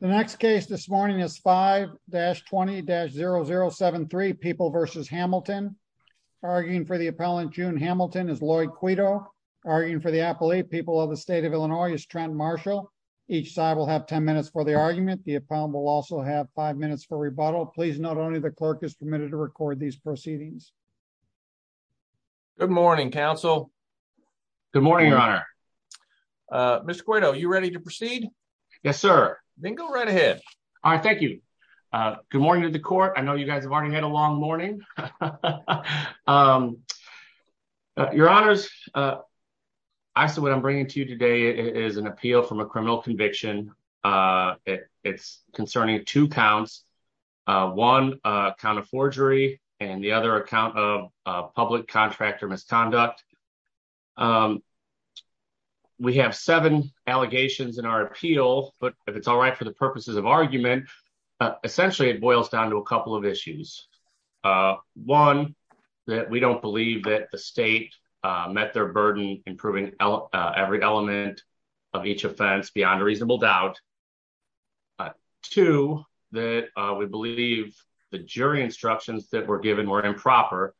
The next case this morning is 5-20-0073 People v. Hamilton. Arguing for the appellant, June Hamilton, is Lloyd Cueto. Arguing for the appellate, People of the State of Illinois, is Trent Marshall. Each side will have 10 minutes for the argument. The appellant will also have 5 minutes for rebuttal. Please note only the clerk is permitted to record these proceedings. Mr. Cueto, are you ready to proceed? Yes, sir. Then go right ahead. All right, thank you. Good morning to the court. I know you guys have already had a long morning. Your Honors, what I'm bringing to you today is an appeal from a criminal conviction. It's concerning two counts, one account of forgery and the other account of public contractor misconduct. We have seven allegations in our appeal, but if it's all right for the purposes of argument, essentially it boils down to a couple of issues. One, that we don't believe that the state met their burden in proving every element of each offense beyond a reasonable doubt. Two, that we believe the jury instructions that were given were improper,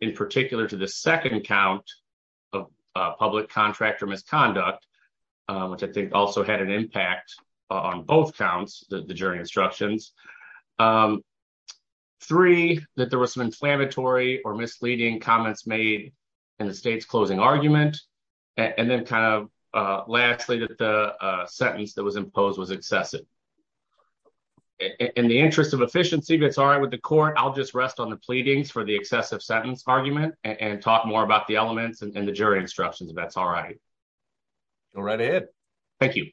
in particular to the second account of public contractor misconduct, which I think also had an impact on both counts, the jury instructions. Three, that there were some inflammatory or misleading comments made in the state's closing argument. And then kind of lastly, that the sentence that was imposed was excessive. In the interest of efficiency, if it's all right with the court, I'll just rest on the pleadings for the excessive sentence argument and talk more about the elements and the jury instructions if that's all right. Go right ahead. Thank you.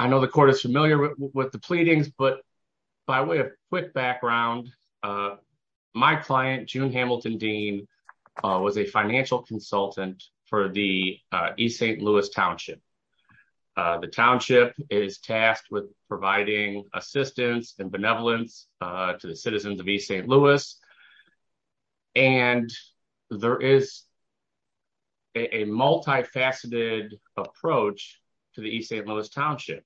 I know the court is familiar with the background. My client, June Hamilton Dean, was a financial consultant for the East St. Louis Township. The township is tasked with providing assistance and benevolence to the citizens of East St. Louis, and there is a multifaceted approach to the East St. Louis Township.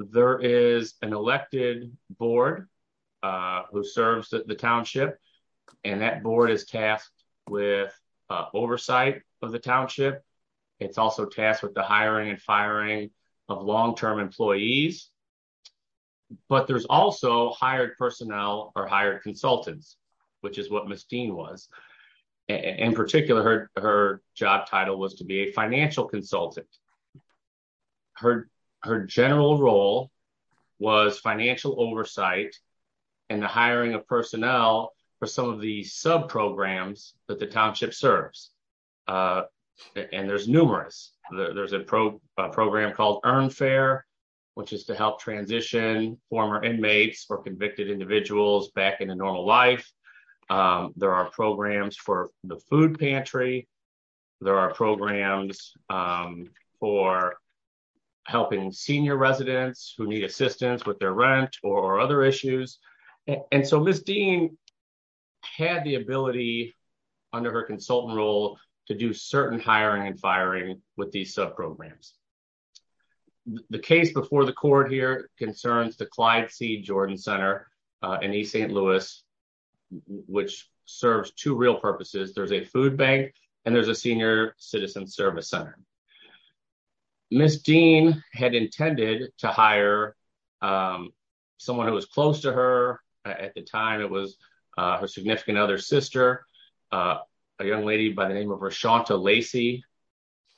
There is an elected board who serves the township, and that board is tasked with oversight of the township. It's also tasked with the hiring and firing of long-term employees. But there's also hired personnel or hired consultants, which is what Ms. Dean was. In particular, her job title was to be a financial consultant. Her general role was financial oversight and the hiring of personnel for some of the sub-programs that the township serves. And there's numerous. There's a program called Earn Fair, which is to help transition former inmates or convicted individuals back into normal life. There are programs for the food pantry. There are programs for helping senior residents who need assistance with their rent or other issues. And so Ms. Dean had the ability under her consultant role to do certain hiring and firing with these sub-programs. The case before the court here concerns the Clyde Seed Jordan Center in East St. Louis, which serves two real purposes. There's a food bank and there's a senior citizen service center. Ms. Dean had intended to hire someone who was close to her at the time. It was her significant other's sister, a young lady by the name of Rashaunta Lacey.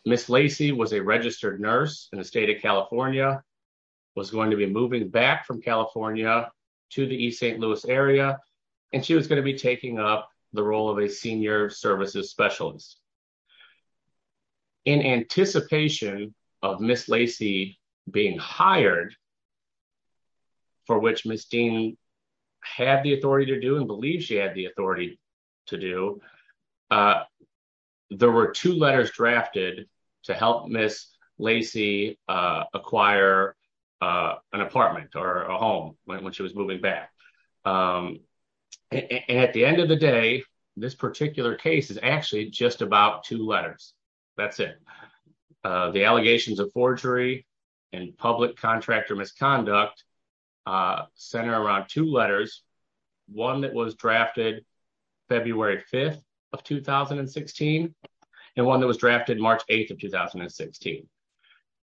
Ms. Lacey was a registered nurse in the state of California, was going to be moving back from California to the East St. Louis area, and she was going to be taking up the role of a senior services specialist. In anticipation of Ms. Lacey being hired, for which Ms. Dean had the authority to do and believes she had the authority to do, there were two letters drafted to help Ms. Lacey acquire an apartment or a home when she was moving back. At the end of the day, this particular case is actually just about two letters. That's it. The allegations of forgery and public contractor misconduct are centered around two letters, one that was drafted February 5th of 2016 and one that was drafted March 8th of 2016.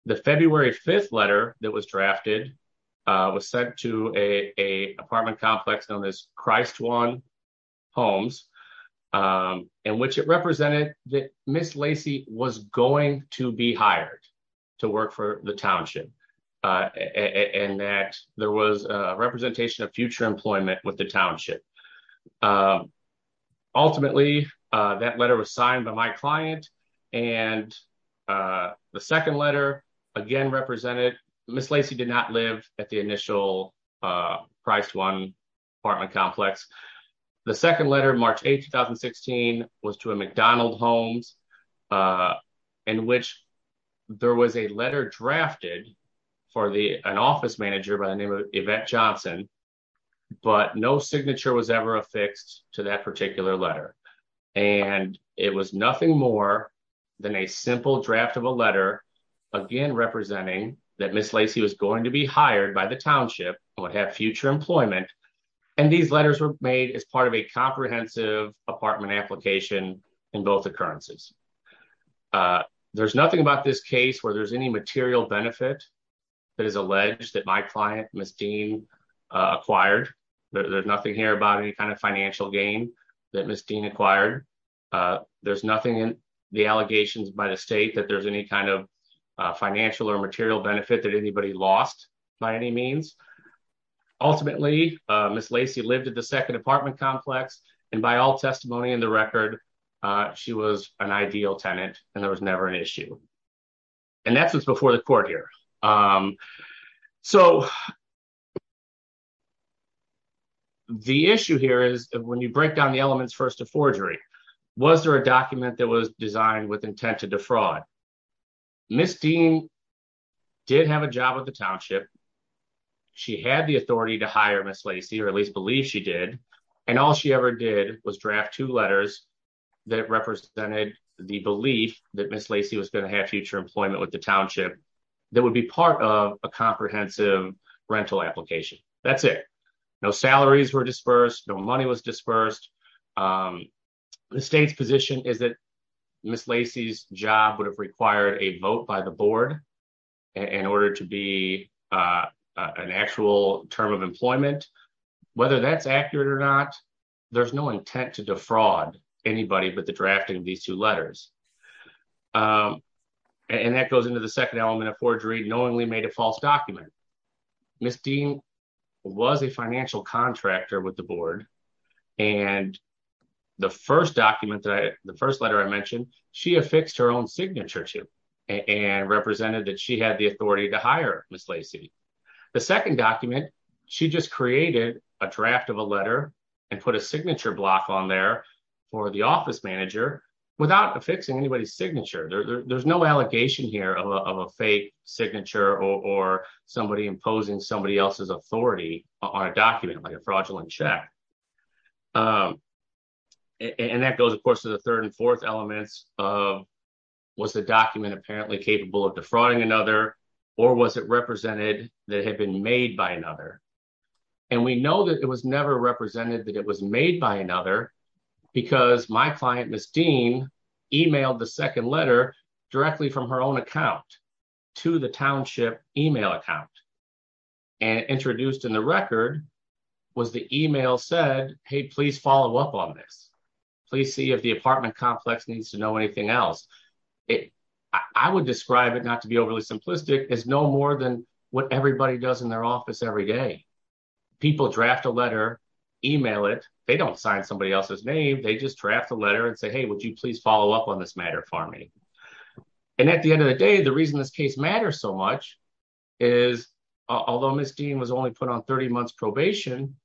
The February 5th letter that was drafted was sent to an apartment complex known as Christ One Homes, in which it represented that Ms. Lacey was going to be hired to work for Township, and that there was a representation of future employment with the Township. Ultimately, that letter was signed by my client, and the second letter again represented Ms. Lacey did not live at the initial Christ One apartment complex. The second letter, March 8th, 2016, was to a McDonald Homes, in which there was a letter drafted for an office manager by the name of Yvette Johnson, but no signature was ever affixed to that particular letter. It was nothing more than a simple draft of a letter, again representing that Ms. Lacey was going to be hired by the Township and would have future employment. These letters were made as part of a comprehensive apartment application in both occurrences. There's nothing about this case where there's any material benefit that is alleged that my client, Ms. Dean, acquired. There's nothing here about any kind of financial gain that Ms. Dean acquired. There's nothing in the allegations by the state that there's any kind of financial or material benefit that anybody lost by any means. Ultimately, Ms. Lacey lived at the second apartment complex, and by all testimony in the record, she was an ideal tenant and there was never an issue. And that's what's before the court here. The issue here is, when you break down the elements first of forgery, was there a document that was designed with intent to defraud? Ms. Dean did have a job at the Township, she had the authority to hire Ms. Lacey, or at least believe she did, and all she ever did was draft two letters that represented the belief that Ms. Lacey was going to have future employment with the Township that would be part of a comprehensive rental application. That's it. No salaries were dispersed, no money was dispersed. The state's position is that Ms. Lacey's job would have term of employment. Whether that's accurate or not, there's no intent to defraud anybody but the drafting of these two letters. And that goes into the second element of forgery, knowingly made a false document. Ms. Dean was a financial contractor with the board, and the first letter I mentioned, she affixed her own signature to and represented that she had the authority to hire Ms. Lacey. She just created a draft of a letter and put a signature block on there for the office manager without affixing anybody's signature. There's no allegation here of a fake signature or somebody imposing somebody else's authority on a document like a fraudulent check. And that goes of course to the third and fourth elements of was the document apparently capable of defrauding another or was it represented that had been made by another. And we know that it was never represented that it was made by another because my client Ms. Dean emailed the second letter directly from her own account to the Township email account. And introduced in the record was the email said, hey please follow up on this. Please see if the apartment complex needs to know anything else. I would describe it not to be overly simplistic as no more than what everybody does in their office every day. People draft a letter, email it, they don't sign somebody else's name, they just draft a letter and say, hey would you please follow up on this matter for me. And at the end of the day, the reason this case matters so much is although Ms. Dean was only put on 30 months probation,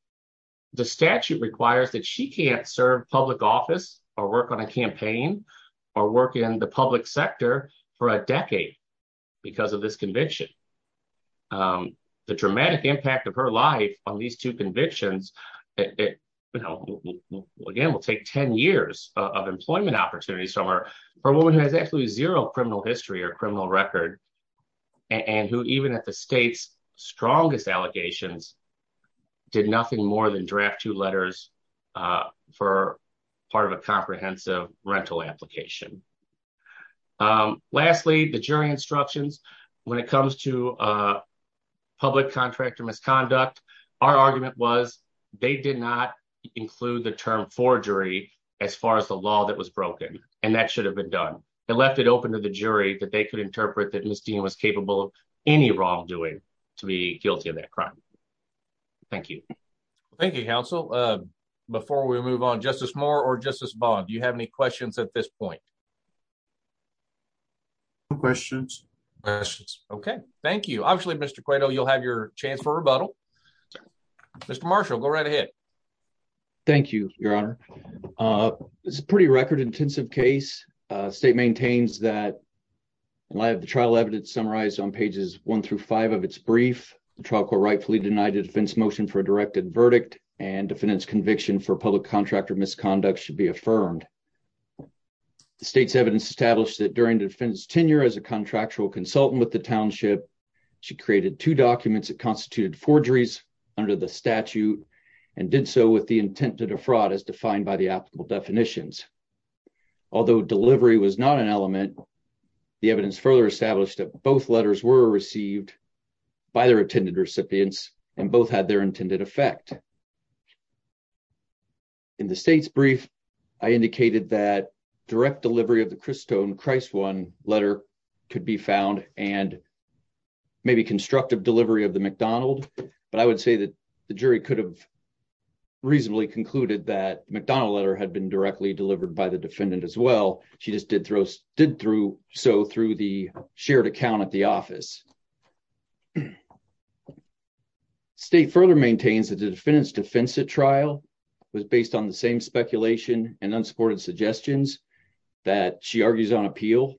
the statute requires that she can't serve public office or work on a campaign or work in the public sector for a decade because of this conviction. The dramatic impact of her life on these two convictions, it you know again will take 10 years of employment opportunities from her. Her woman has absolutely zero criminal history or criminal record and who even at the state's strongest allegations did nothing more than draft two letters for part of a comprehensive rental application. Lastly, the jury instructions when it comes to public contractor misconduct, our argument was they did not include the term forgery as far as the law that was broken and that should have been done. They left it open to the jury that they could interpret that Ms. Dean was capable of any wrongdoing to be guilty of that crime. Thank you. Thank you counsel. Before we move on, Justice Moore or Justice Vaughn, do you have any questions at this point? No questions. Okay, thank you. Obviously Mr. Cueto, you'll have your chance for rebuttal. Mr. Marshall, go right ahead. Thank you, your honor. It's a pretty record intensive case. The state maintains that in light of the trial evidence summarized on pages one through five of its brief, the trial court rightfully denied a defense motion for a directed verdict and defendant's public contractor misconduct should be affirmed. The state's evidence established that during the defendant's tenure as a contractual consultant with the township, she created two documents that constituted forgeries under the statute and did so with the intent to defraud as defined by the applicable definitions. Although delivery was not an element, the evidence further established that both letters were received by their attended recipients and both had their intended effect. In the state's brief, I indicated that direct delivery of the Christone Christ one letter could be found and maybe constructive delivery of the McDonald, but I would say that the jury could have reasonably concluded that McDonald letter had been directly delivered by the defendant as well. She just did throw did through so through the shared account at the office. The state further maintains that the defendant's defense at trial was based on the same speculation and unsupported suggestions that she argues on appeal.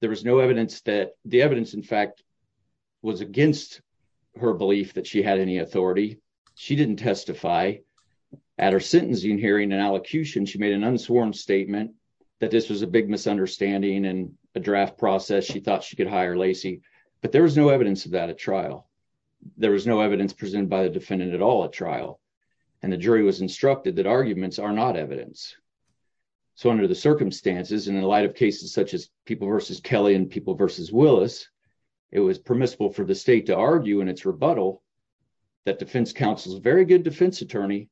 There was no evidence that the evidence in fact was against her belief that she had any authority. She didn't testify at her sentencing hearing and allocution. She made an unsworn statement that this was a big misunderstanding and a draft process. She thought she could hire Lacey, but there was no evidence of that at trial. There was no evidence presented by the defendant at all at trial, and the jury was instructed that arguments are not evidence. So under the circumstances and in light of cases such as people versus Kelly and people versus Willis, it was permissible for the state to argue in its rebuttal that defense counsel is a very good defense attorney,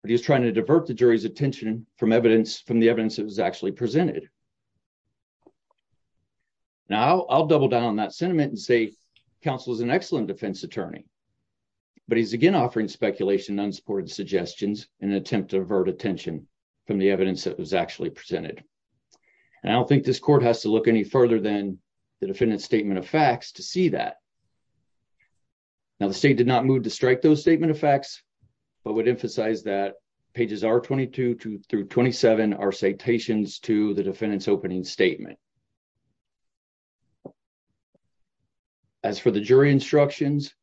but he was trying to divert the jury's attention from evidence from the evidence that was actually presented. Now I'll double down on that sentiment and say counsel is an excellent defense attorney, but he's again offering speculation unsupported suggestions in an attempt to divert attention from the evidence that was actually presented. And I don't think this court has to look any further than the defendant's statement of facts to see that. Now the state did not move to strike those statement of facts, but would emphasize that pages R22 through 27 are citations to the defendant's opening statement. As for the jury instructions,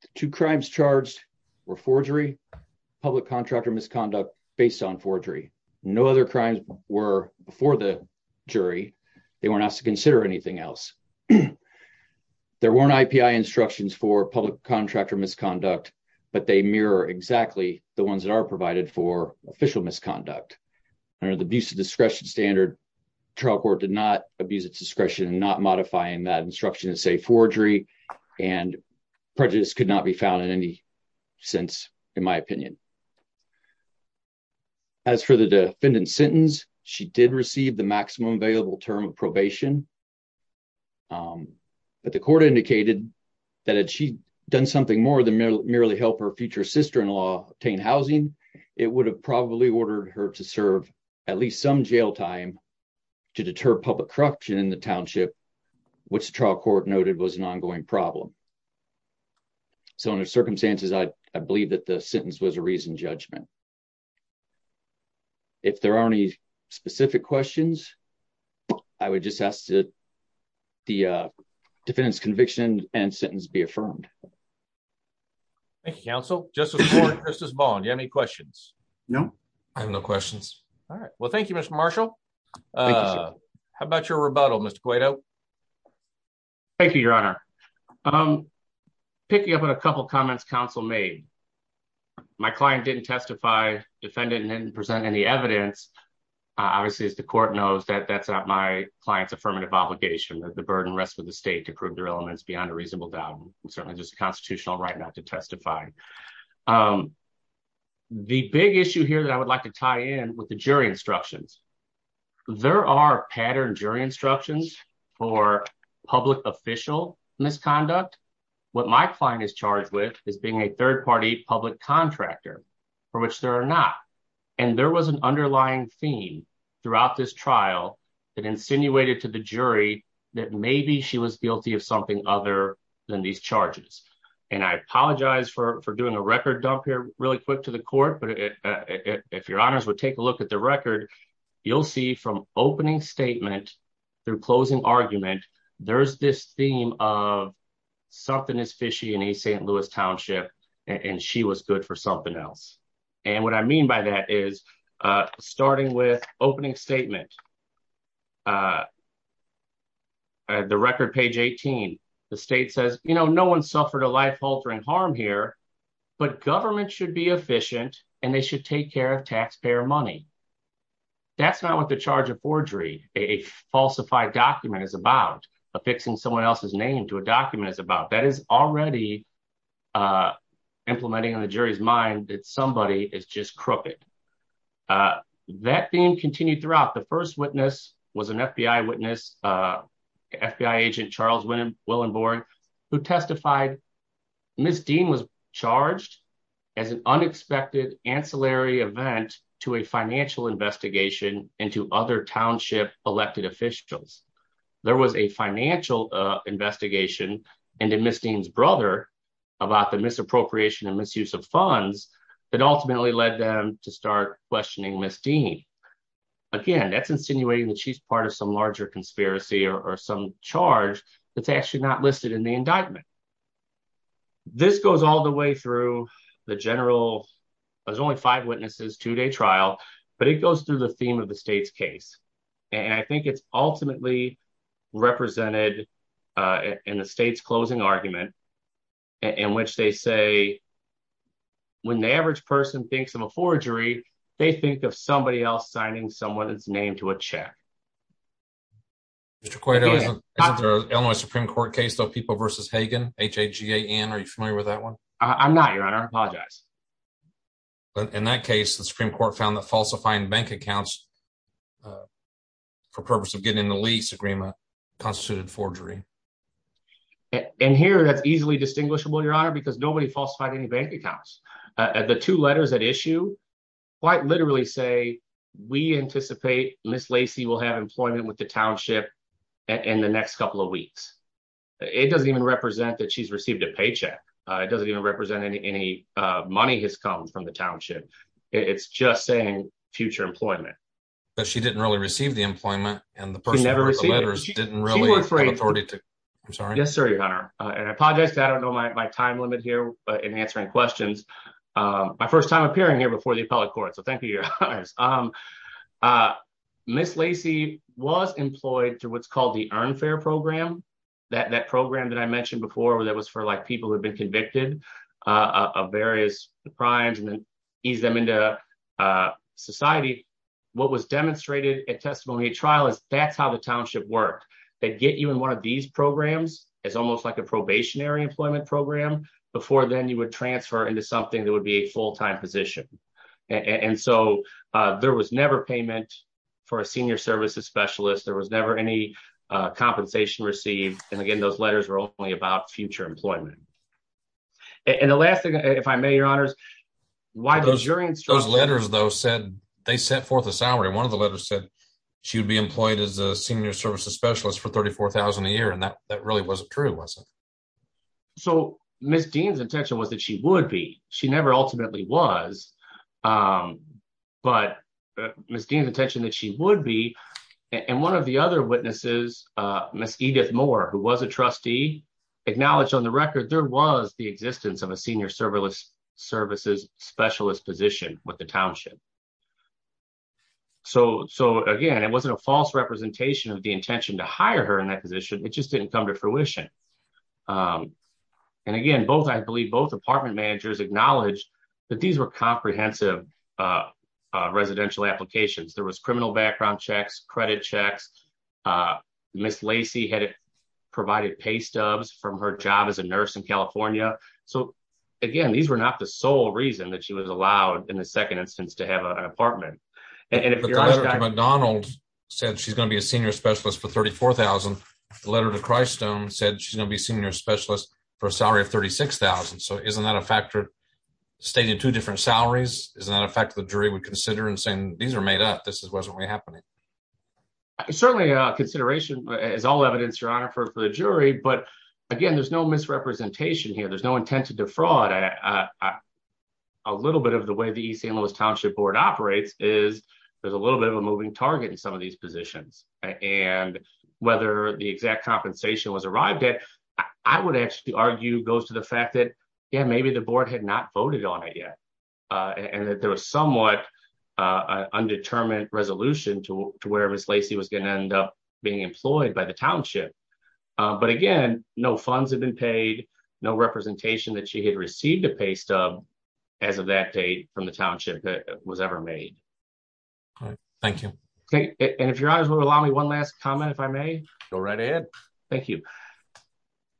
the two crimes charged were forgery, public contractor misconduct based on forgery. No other crimes were before the jury. They weren't asked to consider anything else. There weren't IPI instructions for public contractor misconduct, but they mirror exactly the ones that are provided for official misconduct. Under the abuse of discretion standard, trial court did not abuse its discretion in not modifying that instruction to say forgery and prejudice could not be found in any sense in my opinion. As for the defendant's sentence, she did receive the maximum available term of probation. But the court indicated that had she done something more than merely help her future sister-in-law obtain housing, it would have probably ordered her to serve at least some jail time to deter public corruption in the township, which the trial court noted was an ongoing problem. So under circumstances, I believe that the sentence was a reasoned judgment. If there are any specific questions, I would just ask that the defendant's conviction and sentence be affirmed. Thank you, counsel. Justice Moore and Justice Vaughn, do you have any questions? No, I have no questions. All right. Well, thank you, Mr. Marshall. How about your rebuttal, Mr. Cueto? Thank you, your honor. Picking up on a couple comments counsel made, my client didn't testify. Defendant didn't present any evidence. Obviously, as the court knows, that's not my client's affirmative obligation. The burden rests with the state to prove their elements beyond a reasonable doubt. It's certainly just a constitutional right not to testify. The big issue here that I would like to tie in with the jury instructions, there are pattern jury instructions for public official misconduct. What my client is charged with is being a third party public contractor, for which there are not. There was an underlying theme throughout this trial that insinuated to the jury that maybe she was guilty of something other than these charges. I apologize for doing a record dump here really quick to the court. If your honors would take a look at the record, you'll see from opening statement through closing argument, there's this theme of something is fishy in a St. Louis township, and she was good for something else. What I mean by that is, starting with opening statement, the record page 18, the state says, no one suffered a life-altering harm here, but government should be efficient, and they should take care of taxpayer money. That's not what the charge of forgery, a falsified document is about, affixing someone else's name to a document is about. That is already implementing on the jury's mind that somebody is just crooked. That theme continued throughout. The first witness was an FBI agent, Charles Willenborg, who testified Ms. Dean was charged as an unexpected ancillary event to a financial investigation into other township elected officials. There was a financial investigation into Ms. Dean's brother about the misappropriation and misuse of funds that ultimately led them to start questioning Ms. Dean. Again, that's insinuating that she's part of some larger conspiracy or some charge that's actually not listed in the indictment. This goes all the way through the general, there's only five witnesses, two-day trial, but it goes through the theme of the state's case. I think it's ultimately represented in the state's closing argument in which they say, when the average person thinks of a forgery, they think of somebody else signing someone's name. I'm not, Your Honor. I apologize. In that case, the Supreme Court found that falsifying bank accounts for purpose of getting in the lease agreement constituted forgery. Here, that's easily distinguishable, Your Honor, because nobody falsified any bank accounts. The two letters that issue quite literally say, we anticipate Ms. Lacey will have employment with it. It doesn't even represent that she's received a paycheck. It doesn't even represent any money has come from the township. It's just saying future employment. She didn't really receive the employment and the person who wrote the letters didn't really have the authority to. I'm sorry. Yes, sir, Your Honor. I apologize. I don't know my time limit here in answering questions. My first time appearing here before the appellate court, so thank you, Your Honor. Ms. Lacey was employed through what's called the Earn Fair Program, that program that I mentioned before that was for people who had been convicted of various crimes and then eased them into society. What was demonstrated at testimony at trial is that's how the township worked. They'd get you in one of these programs. It's almost like a probationary employment program. Before then, you would transfer into something that would be a full-time position. And so there was never payment for a senior services specialist. There was never any compensation received. And again, those letters were only about future employment. And the last thing, if I may, Your Honors, why those jury instructions? Those letters, though, they set forth a salary. One of the letters said she would be employed as a senior services specialist for $34,000 a year. And that really wasn't true, was it? So Ms. Dean's intention was that she would be. She never ultimately was, but Ms. Dean's intention that she would be. And one of the other witnesses, Ms. Edith Moore, who was a trustee, acknowledged on the record there was the existence of a senior services specialist position with the township. So again, it wasn't a false representation of the intention to hire her in that position. It just didn't come to fruition. And again, both, I believe, both apartment managers acknowledged that these were comprehensive residential applications. There was criminal background checks, credit checks. Ms. Lacey had provided pay stubs from her job as a nurse in California. So again, these were not the sole reason that she was allowed, in the second instance, to have an apartment. And if you're asking- The letter to Christstone said she's going to be senior specialist for a salary of $36,000. So isn't that a factor stating two different salaries? Isn't that a factor the jury would consider in saying, these are made up, this wasn't really happening? Certainly, consideration is all evidence, Your Honor, for the jury. But again, there's no misrepresentation here. There's no intent to defraud. A little bit of the way the East St. Louis Township Board operates is there's a little bit of a moving target in some of these positions. And whether the exact compensation was arrived at, I would actually argue goes to the fact that, yeah, maybe the board had not voted on it yet. And that there was somewhat undetermined resolution to where Ms. Lacey was going to end up being employed by the township. But again, no funds have been paid, no representation that she had received a pay stub as of that date from the township that was ever made. Thank you. And if Your Honor would allow me one last comment, if I may. Go right ahead. Thank you.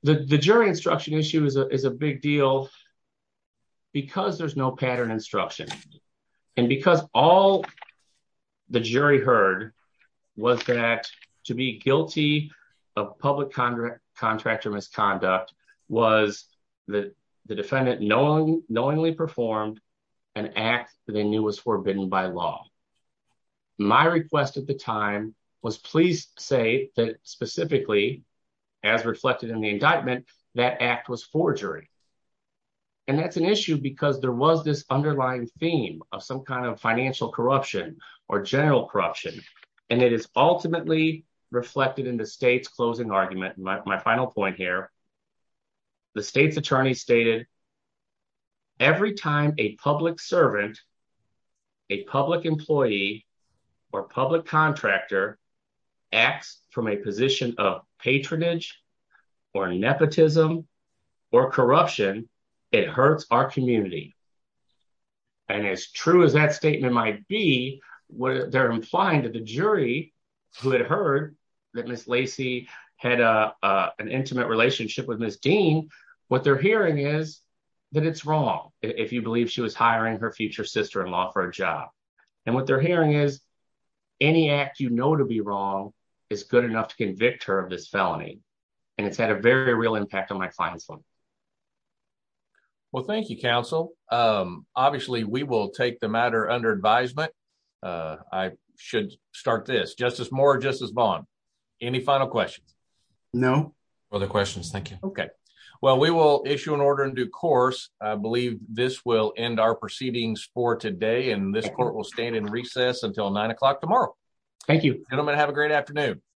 The jury instruction issue is a big deal because there's no pattern instruction. And because all the jury heard was that to be guilty of public contractor misconduct was the defendant knowingly performed an act that they knew was forbidden by law. My request at the time was please say that specifically, as reflected in the indictment, that act was forgery. And that's an issue because there was this underlying theme of some kind of financial corruption or general corruption. And it is ultimately reflected in the state's closing argument. My final point here, the state's attorney stated every time a public servant, a public employee or public contractor acts from a position of patronage or nepotism or corruption, it hurts our community. And as true as that statement might be, they're implying to the jury who had heard that Ms. Lacey had an intimate relationship with Ms. Lacey's sister-in-law for a job. And what they're hearing is any act you know to be wrong is good enough to convict her of this felony. And it's had a very real impact on my client's life. Well, thank you, counsel. Obviously, we will take the matter under advisement. I should start this. Justice Moore, Justice Vaughn, any final questions? No. Other questions. Thank you. Well, we will issue an order in due course. I believe this will end our proceedings for today. And this court will stand in recess until nine o'clock tomorrow. Thank you. Gentlemen, have a great afternoon.